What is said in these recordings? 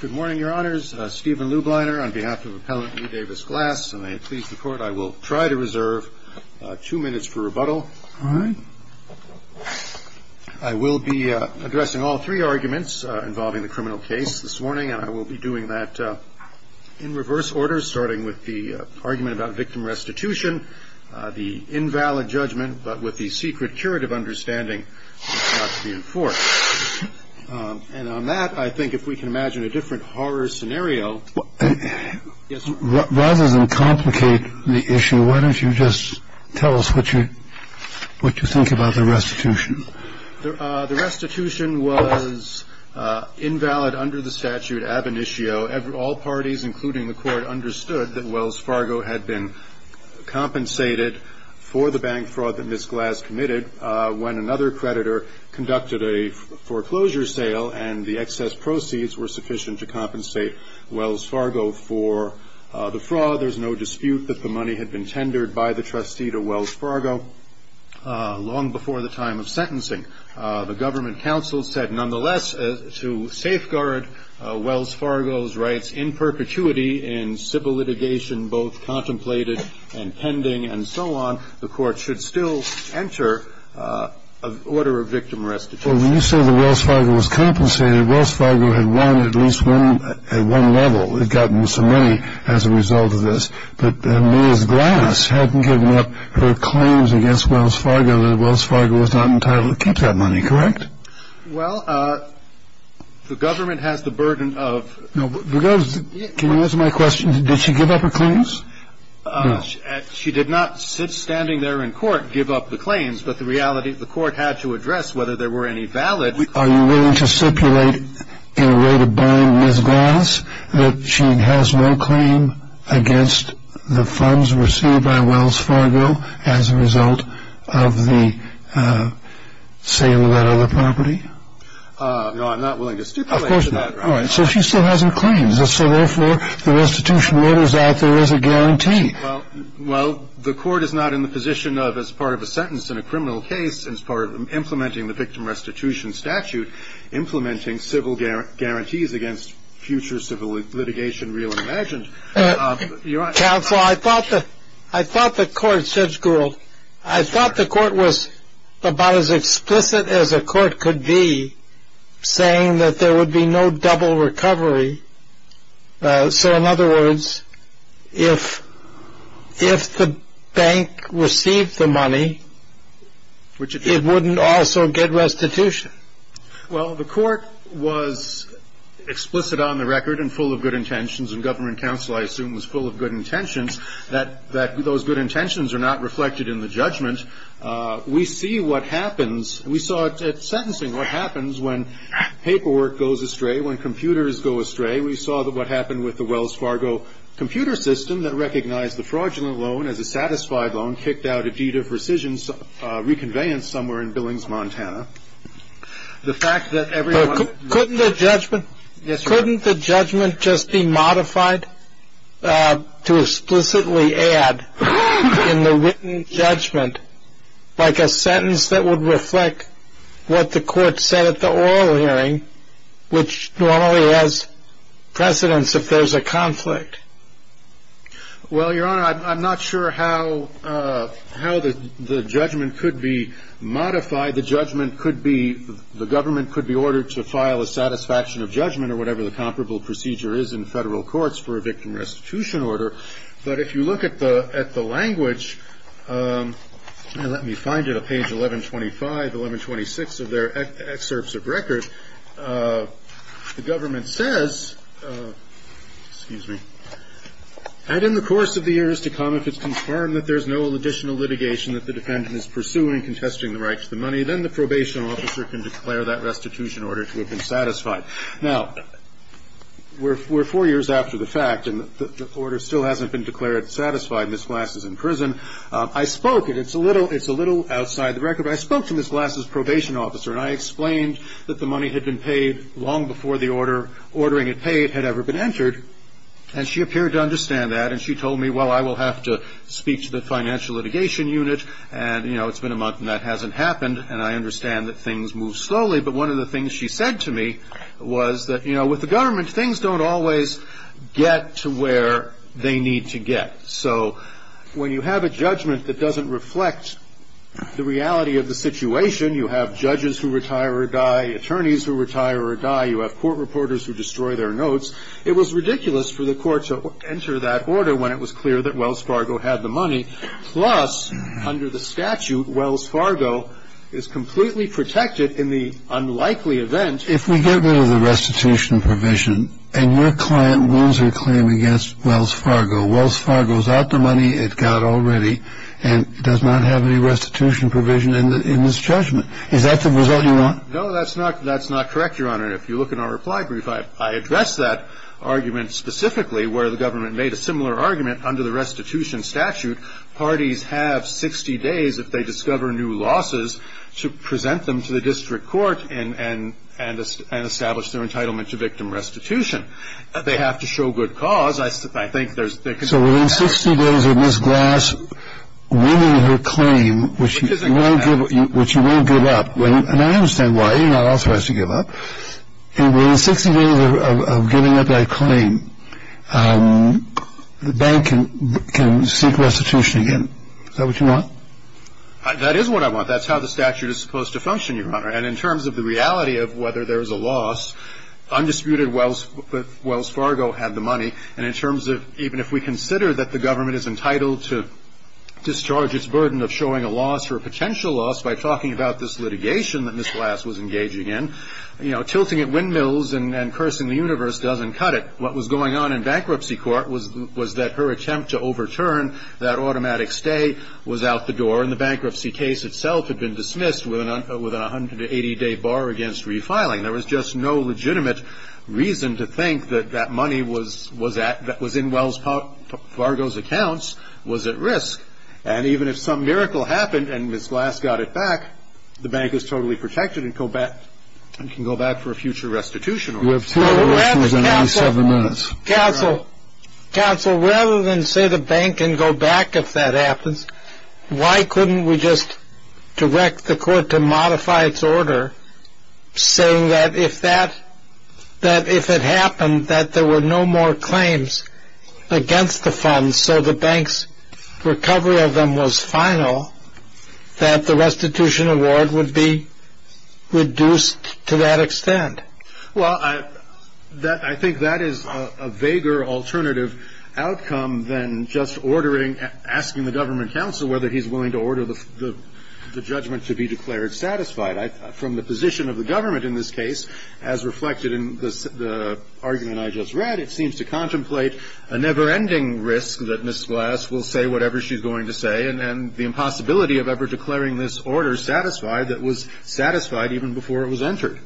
Good morning, Your Honors. Stephen Lubliner on behalf of Appellant E. Davis Glass, and may it please the Court, I will try to reserve two minutes for rebuttal. I will be addressing all three arguments involving the criminal case this morning, and I will be doing that in reverse order, starting with the argument about victim restitution, the invalid judgment, but with the secret curative understanding not to be enforced. And on that, I think if we can imagine a different horror scenario. Yes. Rather than complicate the issue, why don't you just tell us what you what you think about the restitution? The restitution was invalid under the statute ab initio. All parties, including the court, understood that Wells Fargo had been compensated for the bank fraud that Miss Glass committed when another creditor conducted a foreclosure sale, and the excess proceeds were sufficient to compensate Wells Fargo for the fraud. There's no dispute that the money had been tendered by the trustee to Wells Fargo long before the time of sentencing. The government counsel said, nonetheless, to safeguard Wells Fargo's rights in perpetuity in civil litigation, both contemplated and pending and so on, the court should still enter an order of victim restitution. Well, when you say that Wells Fargo was compensated, Wells Fargo had won at least at one level. They'd gotten some money as a result of this. But Miss Glass hadn't given up her claims against Wells Fargo, and Wells Fargo was not entitled to keep that money. Correct? Well, the government has the burden of. Can you answer my question? Did she give up her claims? She did not, standing there in court, give up the claims, but the reality the court had to address whether there were any valid. Are you willing to stipulate in a way to bind Miss Glass that she has no claim against the funds received by Wells Fargo as a result of the sale of that other property? No, I'm not willing to stipulate that. All right. So she still hasn't claimed. So therefore, the restitution order's out there as a guarantee. Well, the court is not in the position of, as part of a sentence in a criminal case, as part of implementing the victim restitution statute, implementing civil guarantees against future civil litigation, real and imagined. Counsel, I thought the court, Judge Gould, I thought the court was about as explicit as a court could be, saying that there would be no double recovery. So, in other words, if the bank received the money, it wouldn't also get restitution. Well, the court was explicit on the record and full of good intentions, and government counsel, I assume, was full of good intentions, that those good intentions are not reflected in the judgment. We see what happens. We saw it at sentencing, what happens when paperwork goes astray, when computers go astray. We saw what happened with the Wells Fargo computer system that recognized the fraudulent loan as a satisfied loan, kicked out a deed of rescission, reconveyance somewhere in Billings, Montana. The fact that everyone... Couldn't the judgment just be modified to explicitly add in the written judgment, like a sentence that would reflect what the court said at the oral hearing, which normally has precedence if there's a conflict? Well, Your Honor, I'm not sure how the judgment could be modified. The judgment could be... The government could be ordered to file a satisfaction of judgment or whatever the comparable procedure is in federal courts for a victim restitution order. But if you look at the language, let me find it, on page 1125, 1126 of their excerpts of record, the government says, excuse me, and in the course of the years to come if it's confirmed that there's no additional litigation that the defendant is pursuing contesting the right to the money, then the probation officer can declare that restitution order to have been satisfied. Now, we're four years after the fact, and the order still hasn't been declared satisfied, and Ms. Glass is in prison. I spoke, and it's a little outside the record, but I spoke to Ms. Glass's probation officer, and I explained that the money had been paid long before the order, ordering it paid, had ever been entered. And she appeared to understand that, and she told me, well, I will have to speak to the financial litigation unit, and, you know, it's been a month and that hasn't happened, and I understand that things move slowly. But one of the things she said to me was that, you know, with the government, things don't always get to where they need to get. So when you have a judgment that doesn't reflect the reality of the situation, you have judges who retire or die, attorneys who retire or die, you have court reporters who destroy their notes. It was ridiculous for the court to enter that order when it was clear that Wells Fargo had the money, plus under the statute, Wells Fargo is completely protected in the unlikely event. If we get rid of the restitution provision, and your client wins her claim against Wells Fargo, Wells Fargo is out the money it got already and does not have any restitution provision in this judgment, is that the result you want? No, that's not correct, Your Honor. If you look in our reply brief, I address that argument specifically where the government made a similar argument under the restitution statute, parties have 60 days if they discover new losses to present them to the district court and establish their entitlement to victim restitution. They have to show good cause. So within 60 days of Ms. Glass winning her claim, which you won't give up, and I understand why, you're not authorized to give up, and within 60 days of giving up that claim, the bank can seek restitution again. Is that what you want? That is what I want. That's how the statute is supposed to function, Your Honor. And in terms of the reality of whether there is a loss, undisputed Wells Fargo had the money, and in terms of even if we consider that the government is entitled to discharge its burden of showing a loss or a potential loss by talking about this litigation that Ms. Glass was engaging in, you know, tilting at windmills and cursing the universe doesn't cut it. What was going on in bankruptcy court was that her attempt to overturn that automatic stay was out the door, and the bankruptcy case itself had been dismissed with an 180-day bar against refiling. There was just no legitimate reason to think that that money was at, that was in Wells Fargo's accounts, was at risk. And even if some miracle happened and Ms. Glass got it back, the bank is totally protected and can go back for a future restitution order. Counsel, rather than say the bank can go back if that happens, why couldn't we just direct the court to modify its order saying that if that, that if it happened that there were no more claims against the funds so the bank's recovery of them was final, that the restitution award would be reduced to that extent? Well, I think that is a vaguer alternative outcome than just ordering, asking the government counsel whether he's willing to order the judgment to be declared satisfied. From the position of the government in this case, as reflected in the argument I just read, it seems to contemplate a never-ending risk that Ms. Glass will say whatever she's going to say and the impossibility of ever declaring this order satisfied that was satisfied even before it was entered.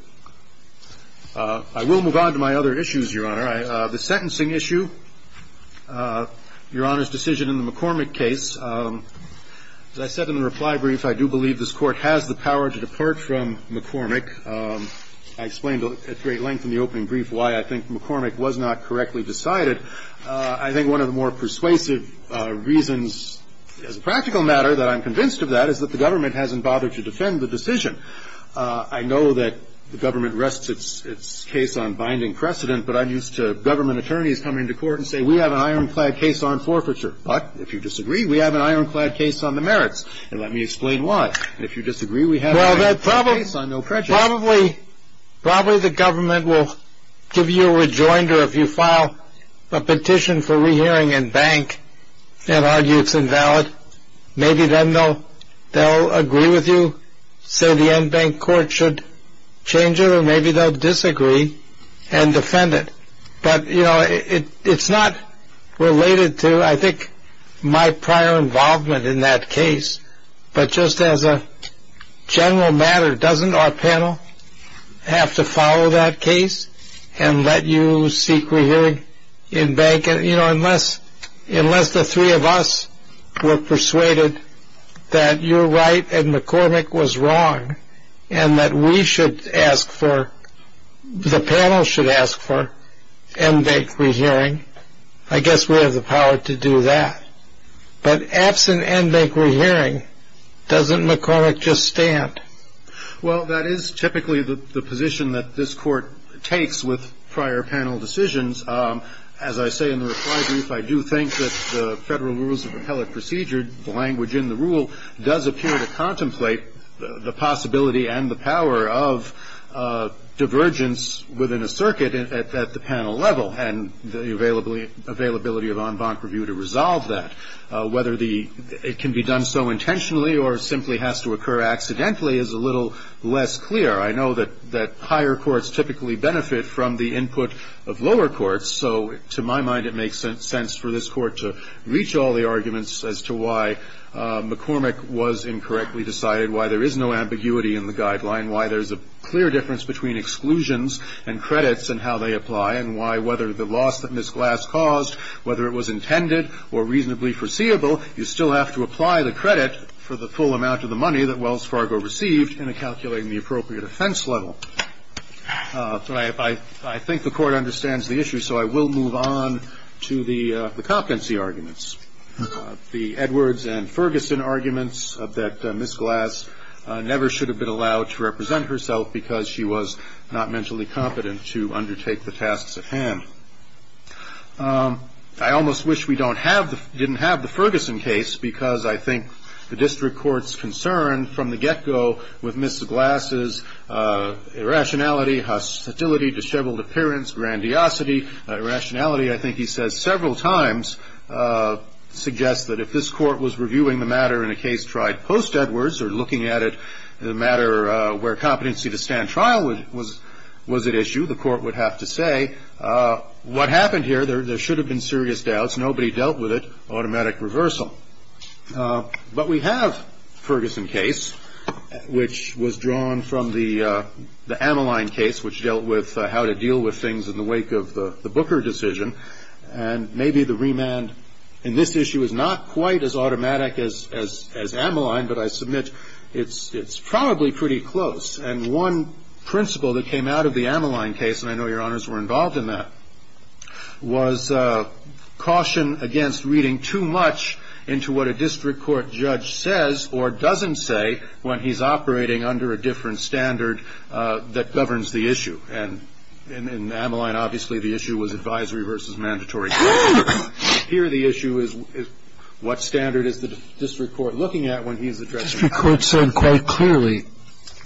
I will move on to my other issues, Your Honor. The sentencing issue, Your Honor's decision in the McCormick case. As I said in the reply brief, I do believe this Court has the power to depart from McCormick. I explained at great length in the opening brief why I think McCormick was not correctly decided. I think one of the more persuasive reasons as a practical matter that I'm convinced of that is that the government hasn't bothered to defend the decision. I know that the government rests its case on binding precedent, but I'm used to government attorneys coming to court and saying, we have an ironclad case on forfeiture. But if you disagree, we have an ironclad case on the merits. And let me explain why. If you disagree, we have an ironclad case on no prejudice. Well, probably the government will give you a rejoinder if you file a petition for rehearing and bank and argue it's invalid. Maybe then they'll agree with you, say the en banc court should change it, or maybe they'll disagree and defend it. But, you know, it's not related to, I think, my prior involvement in that case. But just as a general matter, doesn't our panel have to follow that case and let you seek rehearing in bank? You know, unless the three of us were persuaded that you're right and McCormick was wrong and that we should ask for, the panel should ask for en banc rehearing, I guess we have the power to do that. But absent en banc rehearing, doesn't McCormick just stand? Well, that is typically the position that this court takes with prior panel decisions. As I say in the reply brief, I do think that the federal rules of appellate procedure, the language in the rule does appear to contemplate the possibility and the power of divergence within a circuit at the panel level and the availability of en banc review to resolve that. Whether it can be done so intentionally or simply has to occur accidentally is a little less clear. I know that higher courts typically benefit from the input of lower courts, so to my mind it makes sense for this court to reach all the arguments as to why McCormick was incorrectly decided, why there is no ambiguity in the guideline, why there's a clear difference between exclusions and credits and how they apply, and why whether the loss that Ms. Glass caused, whether it was intended or reasonably foreseeable, you still have to apply the credit for the full amount of the money that Wells Fargo received in calculating the appropriate offense level. I think the court understands the issue, so I will move on to the competency arguments. The Edwards and Ferguson arguments that Ms. Glass never should have been allowed to represent herself because she was not mentally competent to undertake the tasks at hand. I almost wish we didn't have the Ferguson case, because I think the district court's concern from the get-go with Ms. Glass's irrationality, hostility, disheveled appearance, grandiosity, irrationality I think he says several times, suggests that if this court was reviewing the matter in a case tried post-Edwards or looking at it in a matter where competency to stand trial was at issue, the court would have to say, what happened here? There should have been serious doubts. Nobody dealt with it. Automatic reversal. But we have Ferguson case, which was drawn from the Ammaline case, which dealt with how to deal with things in the wake of the Booker decision. And maybe the remand in this issue is not quite as automatic as Ammaline, but I submit it's probably pretty close. And one principle that came out of the Ammaline case, and I know Your Honors were involved in that, was caution against reading too much into what a district court judge says or doesn't say when he's operating under a different standard that governs the issue. And in Ammaline, obviously, the issue was advisory versus mandatory. Here the issue is what standard is the district court looking at when he's addressing it? The district court said quite clearly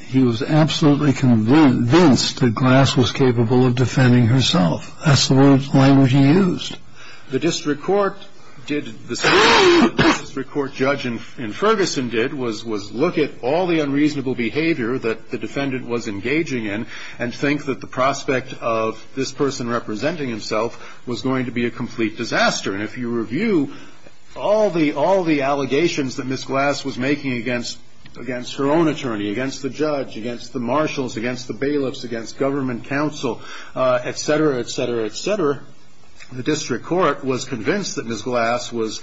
he was absolutely convinced that Glass was capable of defending herself. That's the word and language he used. The district court did the same thing the district court judge in Ferguson did, was look at all the unreasonable behavior that the defendant was engaging in and think that the prospect of this person representing himself was going to be a complete disaster. And if you review all the allegations that Ms. Glass was making against her own attorney, against the judge, against the marshals, against the bailiffs, against government counsel, et cetera, et cetera, et cetera, the district court was convinced that Ms. Glass was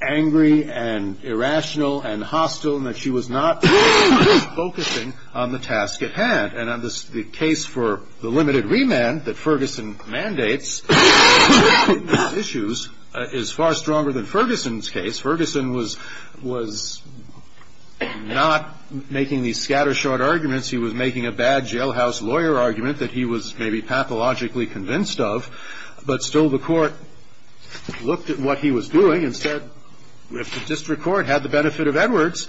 angry and irrational and hostile and that she was not focusing on the task at hand. And the case for the limited remand that Ferguson mandates in these issues is far stronger than Ferguson's case. Ferguson was not making these scattershot arguments. He was making a bad jailhouse lawyer argument that he was maybe pathologically convinced of, but still the court looked at what he was doing and said, if the district court had the benefit of Edwards,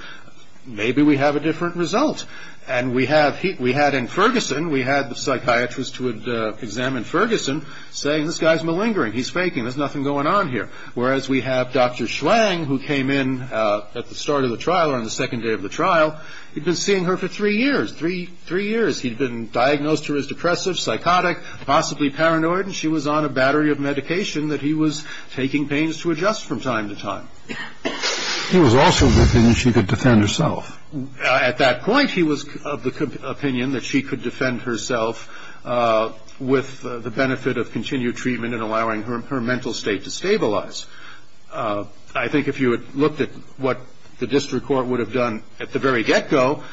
maybe we have a different result. And we had in Ferguson, we had the psychiatrist who had examined Ferguson saying, this guy's malingering, he's faking, there's nothing going on here. Whereas we have Dr. Schwang who came in at the start of the trial or on the second day of the trial, he'd been seeing her for three years, three years. He'd been diagnosed to her as depressive, psychotic, possibly paranoid, and she was on a battery of medication that he was taking pains to adjust from time to time. He was also of the opinion she could defend herself. At that point he was of the opinion that she could defend herself with the benefit of continued treatment and allowing her mental state to stabilize. I think if you had looked at what the district court would have done at the very get-go,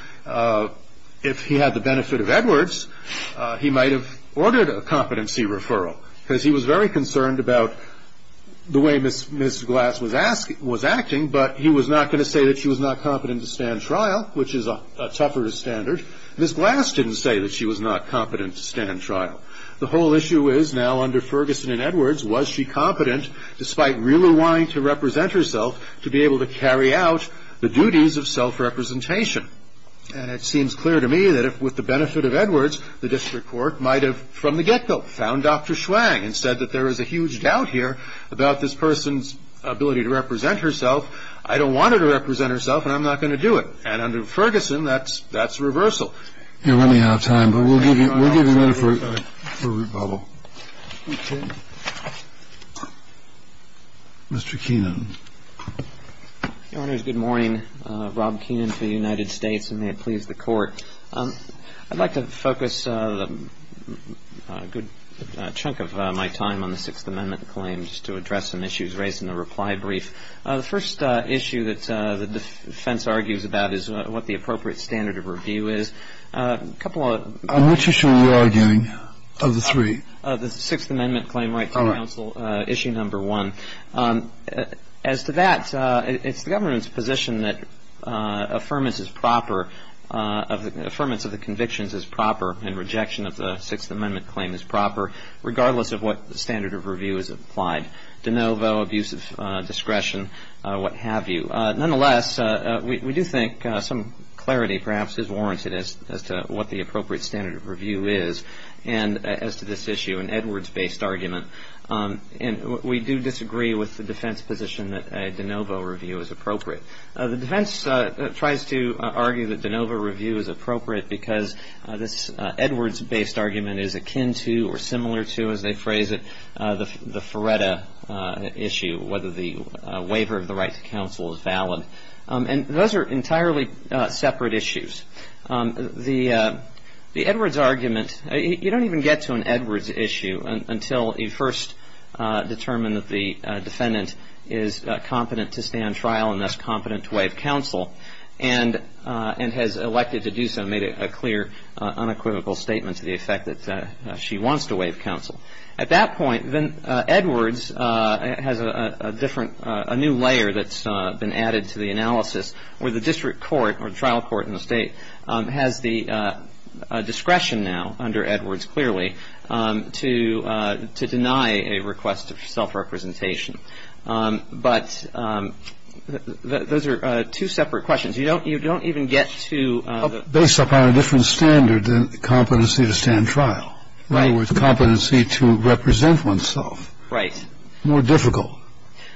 if he had the benefit of Edwards, he might have ordered a competency referral because he was very concerned about the way Ms. Glass was acting, but he was not going to say that she was not competent to stand trial, which is a tougher standard. Ms. Glass didn't say that she was not competent to stand trial. The whole issue is now under Ferguson and Edwards, was she competent despite really wanting to represent herself to be able to carry out the duties of self-representation? And it seems clear to me that if with the benefit of Edwards, the district court might have from the get-go found Dr. Schwang and said that there is a huge doubt here about this person's ability to represent herself, I don't want her to represent herself and I'm not going to do it. And under Ferguson, that's reversal. You're running out of time, but we'll give you a minute for Root Bubble. Mr. Keenan. Your Honors, good morning. Rob Keenan for the United States, and may it please the Court. I'd like to focus a good chunk of my time on the Sixth Amendment claim just to address some issues raised in the reply brief. The first issue that the defense argues about is what the appropriate standard of review is. On which issue are you arguing, of the three? The Sixth Amendment claim right to counsel, issue number one. As to that, it's the government's position that affirmance is proper, affirmance of the convictions is proper, and rejection of the Sixth Amendment claim is proper, regardless of what standard of review is applied, de novo, abuse of discretion, what have you. Nonetheless, we do think some clarity perhaps is warranted as to what the appropriate standard of review is, and as to this issue, an Edwards-based argument. And we do disagree with the defense position that a de novo review is appropriate. The defense tries to argue that de novo review is appropriate because this Edwards-based argument is akin to And those are entirely separate issues. The Edwards argument, you don't even get to an Edwards issue until you first determine that the defendant is competent to stand trial and thus competent to waive counsel, and has elected to do so and made a clear unequivocal statement to the effect that she wants to waive counsel. At that point, then Edwards has a different, a new layer that's been added to the analysis where the district court or the trial court in the State has the discretion now under Edwards clearly to deny a request of self-representation. But those are two separate questions. You don't even get to the Based upon a different standard than competency to stand trial. Right. So, in other words, competency to represent oneself. Right. More difficult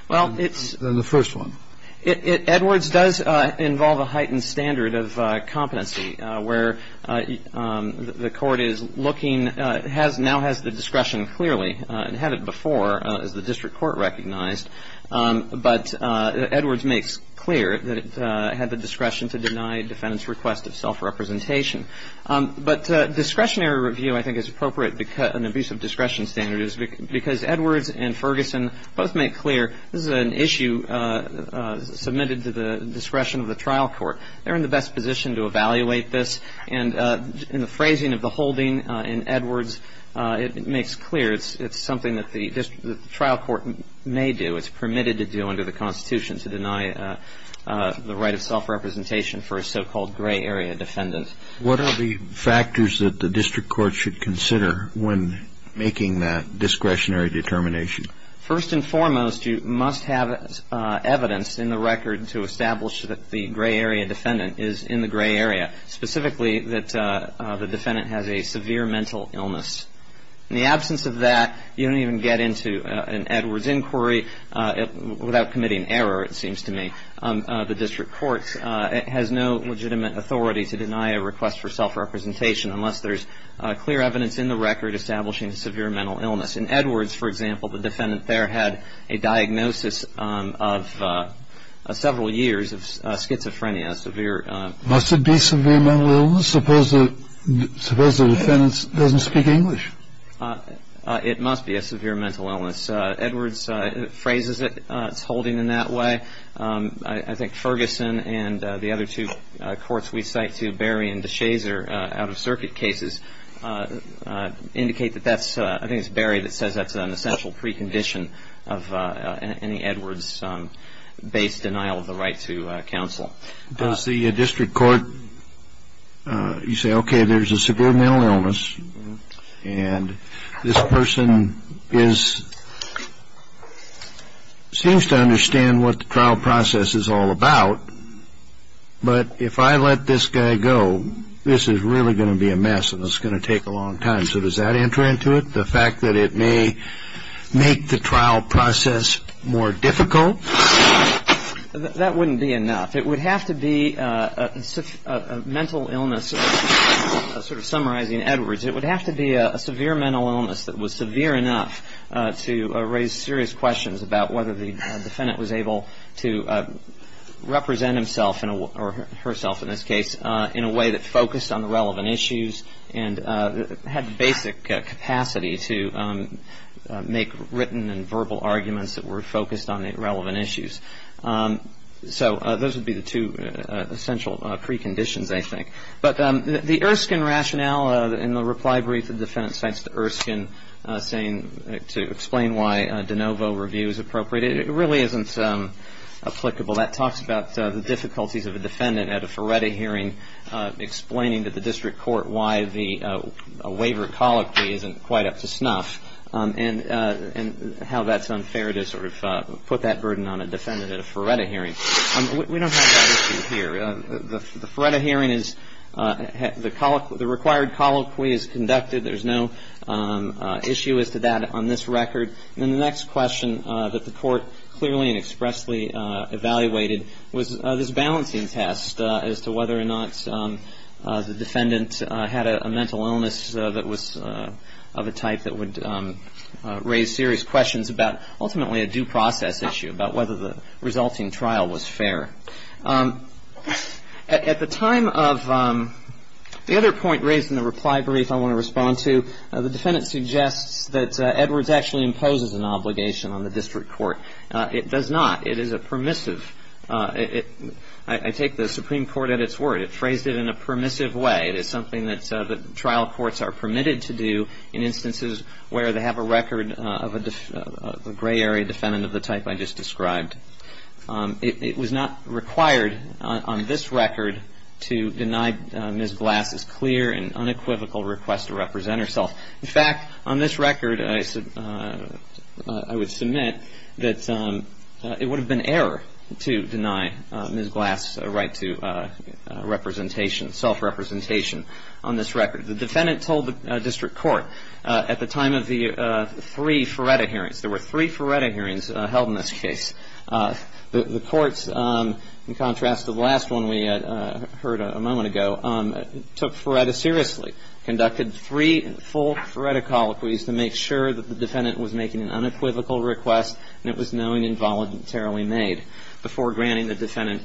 than the first one. Well, it's – Edwards does involve a heightened standard of competency where the court is looking, has now has the discretion clearly, had it before as the district court recognized. But Edwards makes clear that it had the discretion to deny a defendant's request of self-representation. But discretionary review, I think, is appropriate because an abuse of discretion standard is because Edwards and Ferguson both make clear this is an issue submitted to the discretion of the trial court. They're in the best position to evaluate this. And in the phrasing of the holding in Edwards, it makes clear it's something that the trial court may do. It's permitted to do under the Constitution to deny the right of self-representation for a so-called gray area defendant. What are the factors that the district court should consider when making that discretionary determination? First and foremost, you must have evidence in the record to establish that the gray area defendant is in the gray area, specifically that the defendant has a severe mental illness. In the absence of that, you don't even get into an Edwards inquiry without committing error, it seems to me. The district court has no legitimate authority to deny a request for self-representation unless there's clear evidence in the record establishing a severe mental illness. In Edwards, for example, the defendant there had a diagnosis of several years of schizophrenia, severe. Must it be severe mental illness? Suppose the defendant doesn't speak English. It must be a severe mental illness. Edwards phrases it, it's holding in that way. I think Ferguson and the other two courts we cite to Barry and DeShazer out-of-circuit cases indicate that that's, I think it's Barry that says that's an essential precondition of any Edwards-based denial of the right to counsel. Does the district court, you say, okay, there's a severe mental illness and this person seems to understand what the trial process is all about, but if I let this guy go, this is really going to be a mess and it's going to take a long time. So does that enter into it, the fact that it may make the trial process more difficult? That wouldn't be enough. It would have to be a mental illness, sort of summarizing Edwards, it would have to be a severe mental illness that was severe enough to raise serious questions about whether the defendant was able to represent himself or herself in this case in a way that focused on the relevant issues and had basic capacity to make written and verbal arguments that were focused on the relevant issues. So those would be the two essential preconditions, I think. But the Erskine rationale in the reply brief the defendant sends to Erskine saying to explain why de novo review is appropriate, it really isn't applicable. That talks about the difficulties of a defendant at a Ferretti hearing explaining to the district court why the waiver colloquy isn't quite up to snuff and how that's unfair to sort of put that burden on a defendant at a Ferretti hearing. We don't have that issue here. The Ferretti hearing is the required colloquy is conducted. There's no issue as to that on this record. And the next question that the court clearly and expressly evaluated was this balancing test as to whether or not the defendant had a mental illness that was of a type that would raise serious questions about ultimately a due process issue, about whether the resulting trial was fair. At the time of the other point raised in the reply brief I want to respond to, the defendant suggests that Edwards actually imposes an obligation on the district court. It does not. It is a permissive. I take the Supreme Court at its word. It phrased it in a permissive way. It is something that trial courts are permitted to do in instances where they have a record of a gray area defendant of the type I just described. It was not required on this record to deny Ms. Glass's clear and unequivocal request to represent herself. In fact, on this record I would submit that it would have been error to deny Ms. Glass's right to representation, self-representation on this record. The defendant told the district court at the time of the three Ferretti hearings, there were three Ferretti hearings held in this case. The courts, in contrast to the last one we heard a moment ago, took Ferretti seriously, conducted three full Ferretti colloquies to make sure that the defendant was making an unequivocal request and it was known involuntarily made before granting the defendant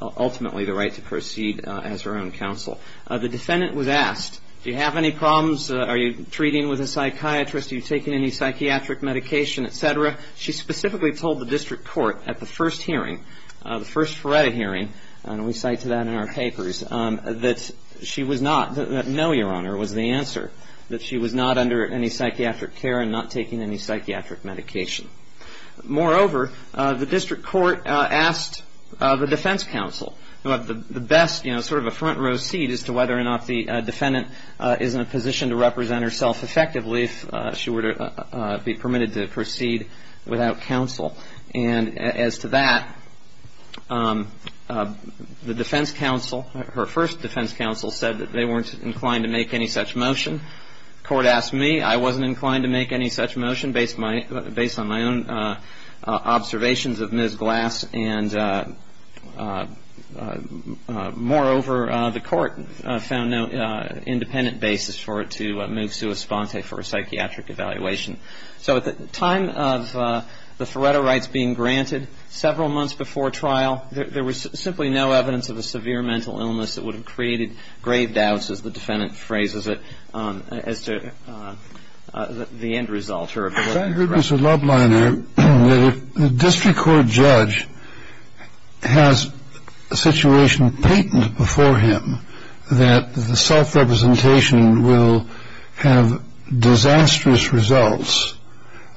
ultimately the right to proceed as her own counsel. The defendant was asked, do you have any problems? Are you treating with a psychiatrist? Are you taking any psychiatric medication, et cetera? She specifically told the district court at the first hearing, the first Ferretti hearing, and we cite to that in our papers, that she was not, that no, Your Honor, was the answer, that she was not under any psychiatric care and not taking any psychiatric medication. Moreover, the district court asked the defense counsel who had the best, you know, sort of a front row seat as to whether or not the defendant is in a position to represent herself effectively if she were to be permitted to proceed without counsel. And as to that, the defense counsel, her first defense counsel said that they weren't inclined to make any such motion. The court asked me. I wasn't inclined to make any such motion based on my own observations of Ms. Glass. And moreover, the court found no independent basis for it to move Sua Sponte for a psychiatric evaluation. So at the time of the Ferretti rights being granted, several months before trial, there was simply no evidence of a severe mental illness that would have created grave doubts, as the defendant phrases it, as to the end result. Now, Mr. Lubliner, if the district court judge has a situation patent before him that the self-representation will have disastrous results,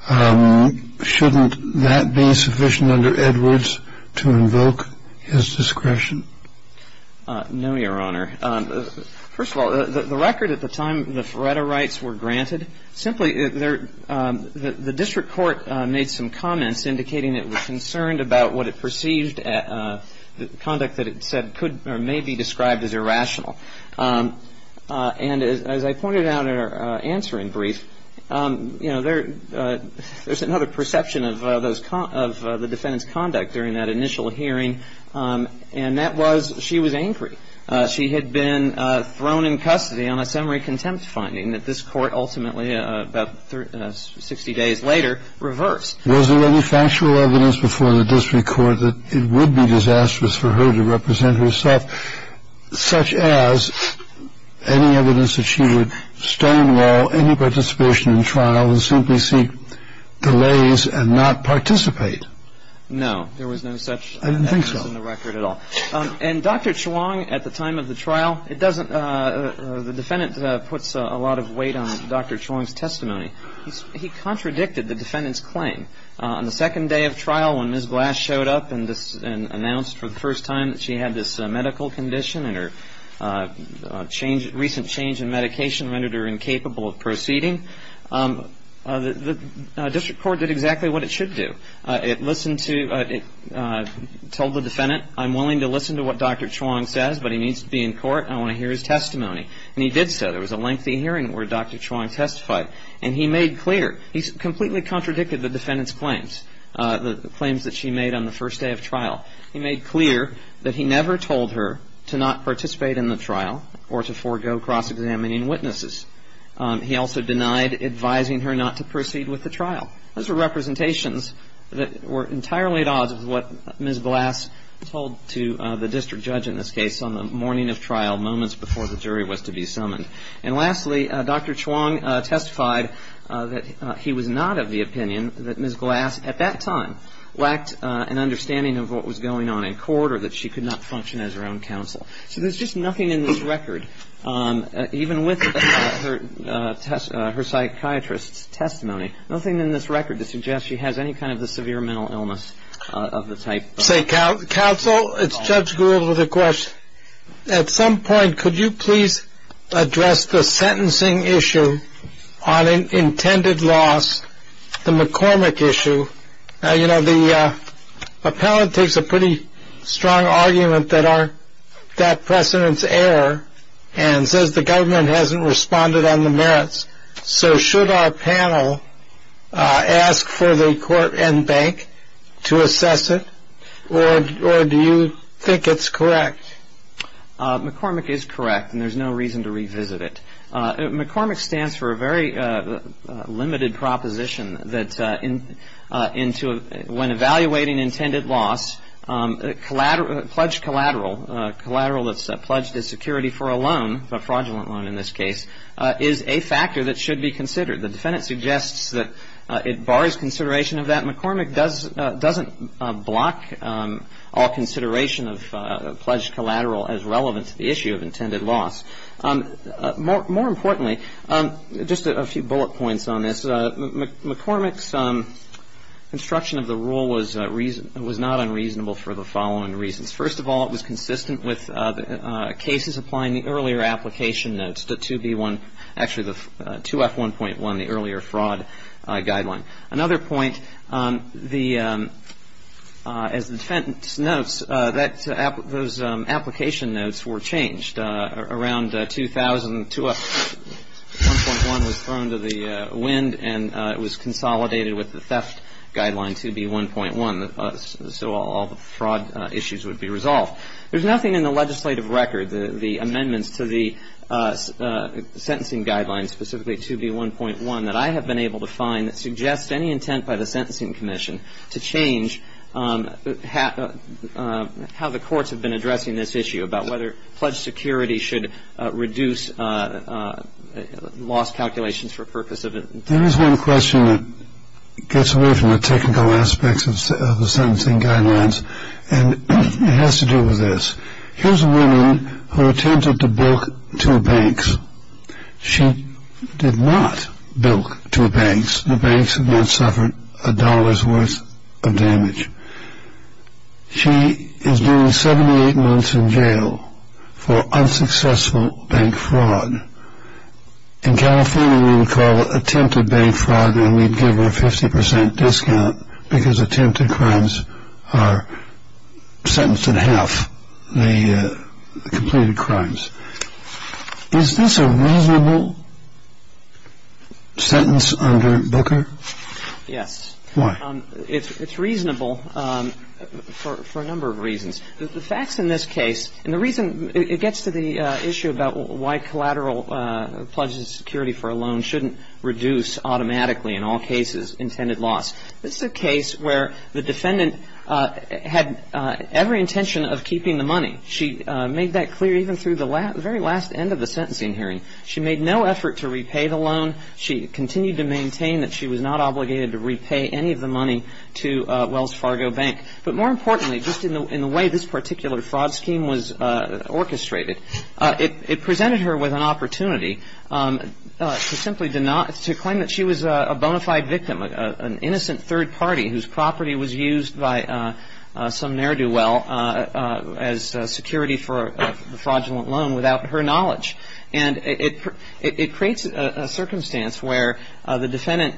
shouldn't that be sufficient under Edwards to invoke his discretion? No, Your Honor. First of all, the record at the time the Ferretti rights were granted, simply the district court made some comments indicating it was concerned about what it perceived conduct that it said could or may be described as irrational. And as I pointed out in our answering brief, you know, there's another perception of the defendant's conduct during that initial hearing, and that was she was angry. She had been thrown in custody on a summary contempt finding that this court ultimately, about 60 days later, reversed. Was there any factual evidence before the district court that it would be disastrous for her to represent herself, such as any evidence that she would stonewall any participation in trial and simply seek delays and not participate? No, there was no such evidence in the record at all. I didn't think so. And Dr. Chuang, at the time of the trial, the defendant puts a lot of weight on Dr. Chuang's testimony. He contradicted the defendant's claim. On the second day of trial when Ms. Glass showed up and announced for the first time that she had this medical condition and her recent change in medication rendered her incapable of proceeding, the district court did exactly what it should do. It listened to – it told the defendant, I'm willing to listen to what Dr. Chuang says, but he needs to be in court and I want to hear his testimony. And he did so. There was a lengthy hearing where Dr. Chuang testified. And he made clear – he completely contradicted the defendant's claims, the claims that she made on the first day of trial. He made clear that he never told her to not participate in the trial or to forego cross-examining witnesses. He also denied advising her not to proceed with the trial. Those were representations that were entirely at odds with what Ms. Glass told to the district judge in this case on the morning of trial, moments before the jury was to be summoned. And lastly, Dr. Chuang testified that he was not of the opinion that Ms. Glass, at that time, lacked an understanding of what was going on in court or that she could not function as her own counsel. So there's just nothing in this record, even with her psychiatrist's testimony, nothing in this record to suggest she has any kind of a severe mental illness of the type. Counsel, it's Judge Gould with a question. At some point, could you please address the sentencing issue on intended loss, the McCormick issue? You know, the appellate takes a pretty strong argument that that precedent's error and says the government hasn't responded on the merits. So should our panel ask for the court and bank to assess it, or do you think it's correct? McCormick is correct, and there's no reason to revisit it. McCormick stands for a very limited proposition that when evaluating intended loss, pledged collateral, collateral that's pledged as security for a loan, a fraudulent loan in this case, is a factor that should be considered. The defendant suggests that it bars consideration of that. McCormick doesn't block all consideration of pledged collateral as relevant to the issue of intended loss. More importantly, just a few bullet points on this. McCormick's construction of the rule was not unreasonable for the following reasons. First of all, it was consistent with cases applying the earlier application notes, the 2B1, actually the 2F1.1, the earlier fraud guideline. Another point, as the defendant notes, those application notes were changed. 2F1.1 was thrown to the wind, and it was consolidated with the theft guideline, 2B1.1, so all the fraud issues would be resolved. There's nothing in the legislative record, the amendments to the sentencing guidelines, specifically 2B1.1, that I have been able to find that suggests any intent by the Sentencing Commission to change how the courts have been addressing this issue, about whether pledged security should reduce loss calculations for the purpose of it. There is one question that gets away from the technical aspects of the sentencing guidelines, and it has to do with this. Here's a woman who attempted to bilk two banks. She did not bilk two banks. The banks have not suffered a dollar's worth of damage. She is doing 78 months in jail for unsuccessful bank fraud. In California, we would call it attempted bank fraud, and we'd give her a 50 percent discount because attempted crimes are sentenced in half, the completed crimes. Is this a reasonable sentence under Booker? Yes. Why? It's reasonable for a number of reasons. The facts in this case, and the reason it gets to the issue about why collateral pledged security for a loan shouldn't reduce automatically in all cases intended loss. This is a case where the defendant had every intention of keeping the money. She made that clear even through the very last end of the sentencing hearing. She made no effort to repay the loan. She continued to maintain that she was not obligated to repay any of the money to Wells Fargo Bank. But more importantly, just in the way this particular fraud scheme was orchestrated, it presented her with an opportunity to simply deny, to claim that she was a bona fide victim, an innocent third party whose property was used by some ne'er-do-well as security for a fraudulent loan without her knowledge. And it creates a circumstance where the defendant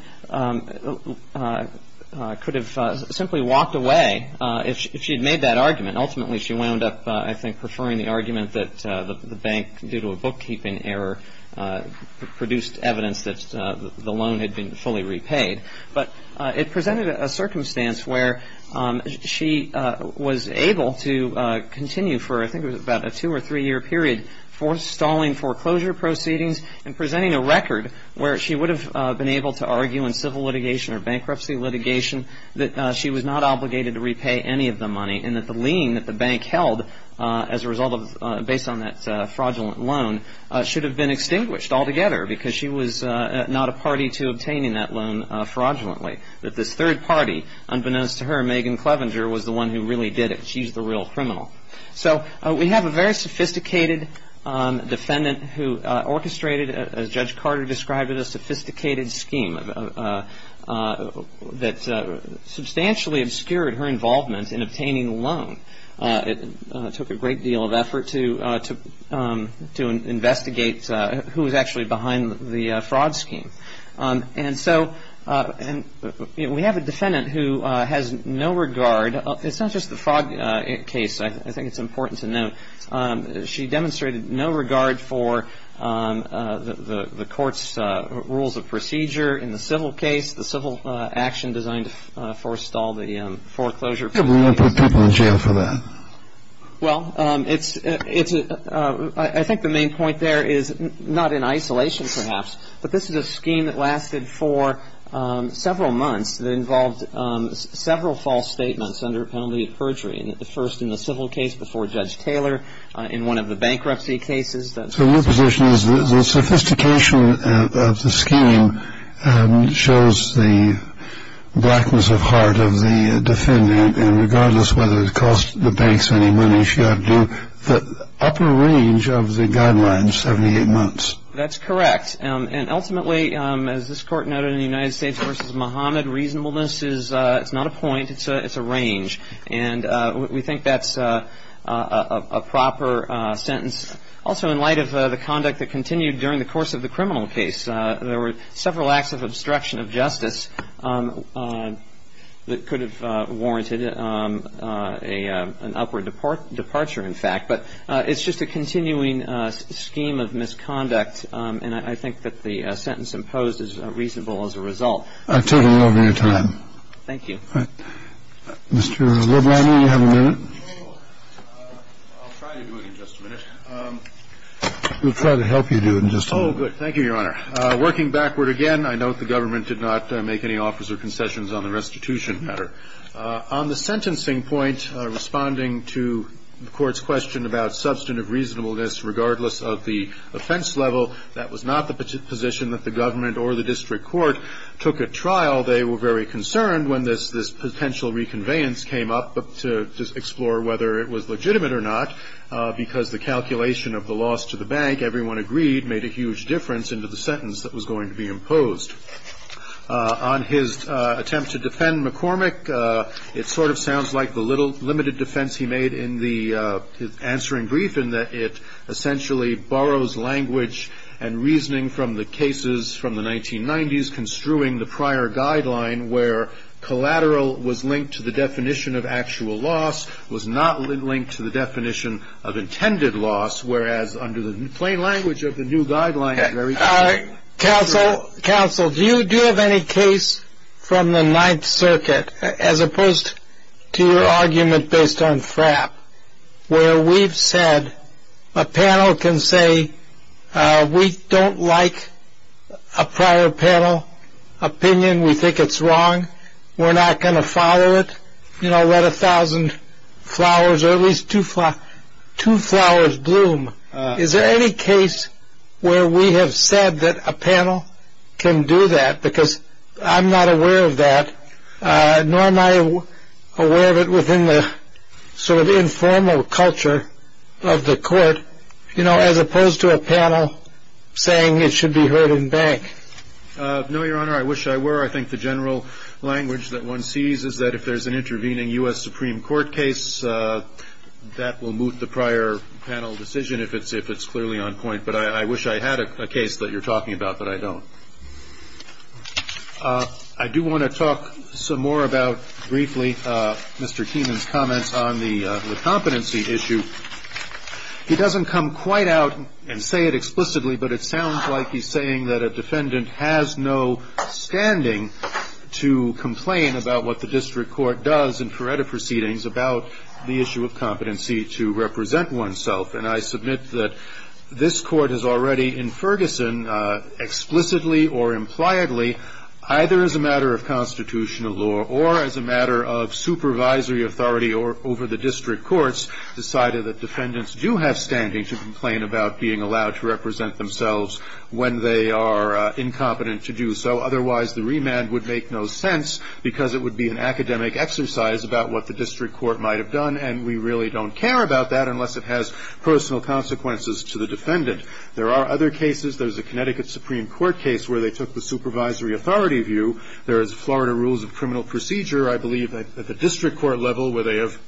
could have simply walked away if she had made that argument. Ultimately, she wound up, I think, preferring the argument that the bank, due to a bookkeeping error, produced evidence that the loan had been fully repaid. But it presented a circumstance where she was able to continue for, I think it was about a two or three year period, stalling foreclosure proceedings and presenting a record where she would have been able to argue in civil litigation or bankruptcy litigation that she was not obligated to repay any of the money and that the lien that the bank held as a result of, based on that fraudulent loan, should have been extinguished altogether because she was not a party to obtaining that loan fraudulently. That this third party, unbeknownst to her, Megan Clevenger, was the one who really did it. She's the real criminal. So we have a very sophisticated defendant who orchestrated, as Judge Carter described it, a sophisticated scheme that substantially obscured her involvement in obtaining the loan. It took a great deal of effort to investigate who was actually behind the fraud scheme. And so we have a defendant who has no regard. It's not just the fraud case, I think it's important to note. She demonstrated no regard for the court's rules of procedure in the civil case, the civil action designed to forestall the foreclosure proceedings. Why do we want to put people in jail for that? Well, I think the main point there is not in isolation, perhaps, but this is a scheme that lasted for several months that involved several false statements under penalty of perjury, the first in the civil case before Judge Taylor, in one of the bankruptcy cases. So your position is the sophistication of the scheme shows the blackness of heart of the defendant, and regardless of whether it cost the banks any money, she had to do the upper range of the guidelines, 78 months. That's correct. And ultimately, as this Court noted in the United States v. Muhammad, reasonableness is not a point, it's a range. And we think that's a proper sentence. Also, in light of the conduct that continued during the course of the criminal case, there were several acts of obstruction of justice that could have warranted an upward departure, in fact. But it's just a continuing scheme of misconduct, and I think that the sentence imposed is reasonable as a result. I totally love your time. Thank you. Mr. LeBlanc, do you have a minute? I'll try to do it in just a minute. We'll try to help you do it in just a moment. Oh, good. Thank you, Your Honor. Working backward again, I note the government did not make any offers or concessions on the restitution matter. On the sentencing point, responding to the Court's question about substantive reasonableness, regardless of the offense level, that was not the position that the government or the district court took at trial. While they were very concerned when this potential reconveyance came up to explore whether it was legitimate or not, because the calculation of the loss to the bank, everyone agreed, made a huge difference into the sentence that was going to be imposed. On his attempt to defend McCormick, it sort of sounds like the limited defense he made in his answering brief in that it essentially borrows language and reasoning from the cases from the 1990s, construing the prior guideline where collateral was linked to the definition of actual loss, was not linked to the definition of intended loss, whereas under the plain language of the new guideline. Counsel, do you have any case from the Ninth Circuit, as opposed to your argument based on FRAP, where we've said a panel can say we don't like a prior panel opinion, we think it's wrong, we're not going to follow it, you know, let a thousand flowers or at least two flowers bloom. Is there any case where we have said that a panel can do that? Because I'm not aware of that, nor am I aware of it within the sort of informal culture of the court, you know, as opposed to a panel saying it should be heard in bank. No, Your Honor, I wish I were. I think the general language that one sees is that if there's an intervening U.S. Supreme Court case, that will moot the prior panel decision if it's clearly on point. But I wish I had a case that you're talking about, but I don't. I do want to talk some more about, briefly, Mr. Keenan's comments on the competency issue. He doesn't come quite out and say it explicitly, but it sounds like he's saying that a defendant has no standing to complain about what the district court does in prerogative proceedings about the issue of competency to represent oneself. And I submit that this Court has already, in Ferguson, explicitly or impliedly, either as a matter of constitutional law or as a matter of supervisory authority over the district courts, decided that defendants do have standing to complain about being allowed to represent themselves when they are incompetent to do so. Otherwise, the remand would make no sense, because it would be an academic exercise about what the district court might have done, and we really don't care about that unless it has personal consequences to the defendant. There are other cases. There's a Connecticut Supreme Court case where they took the supervisory authority view. There is Florida Rules of Criminal Procedure, I believe, at the district court level, where they have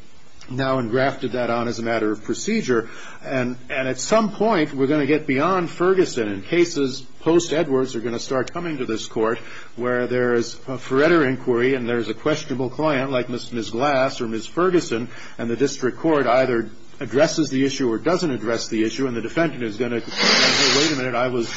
now engrafted that on as a matter of procedure. And at some point, we're going to get beyond Ferguson, and cases post-Edwards are going to start coming to this Court, where there is a Feretta inquiry and there is a questionable client like Ms. Glass or Ms. Ferguson, and the district court either addresses the issue or doesn't address the issue, and the defendant is going to say, wait a minute, I was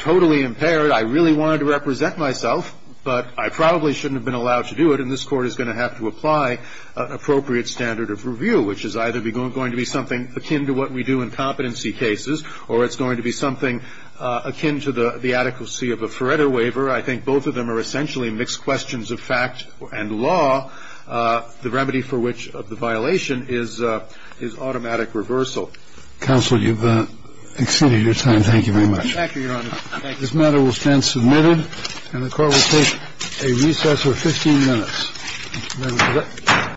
totally impaired. I really wanted to represent myself, but I probably shouldn't have been allowed to do it, and this Court is going to have to apply an appropriate standard of review, which is either going to be something akin to what we do in competency cases, or it's going to be something akin to the adequacy of a Feretta waiver. I think both of them are essentially mixed questions of fact and law, the remedy for which the violation is automatic reversal. Counsel, you've exceeded your time. Thank you very much. Thank you, Your Honor. This matter will stand submitted, and the Court will take a recess of 15 minutes. Thank you.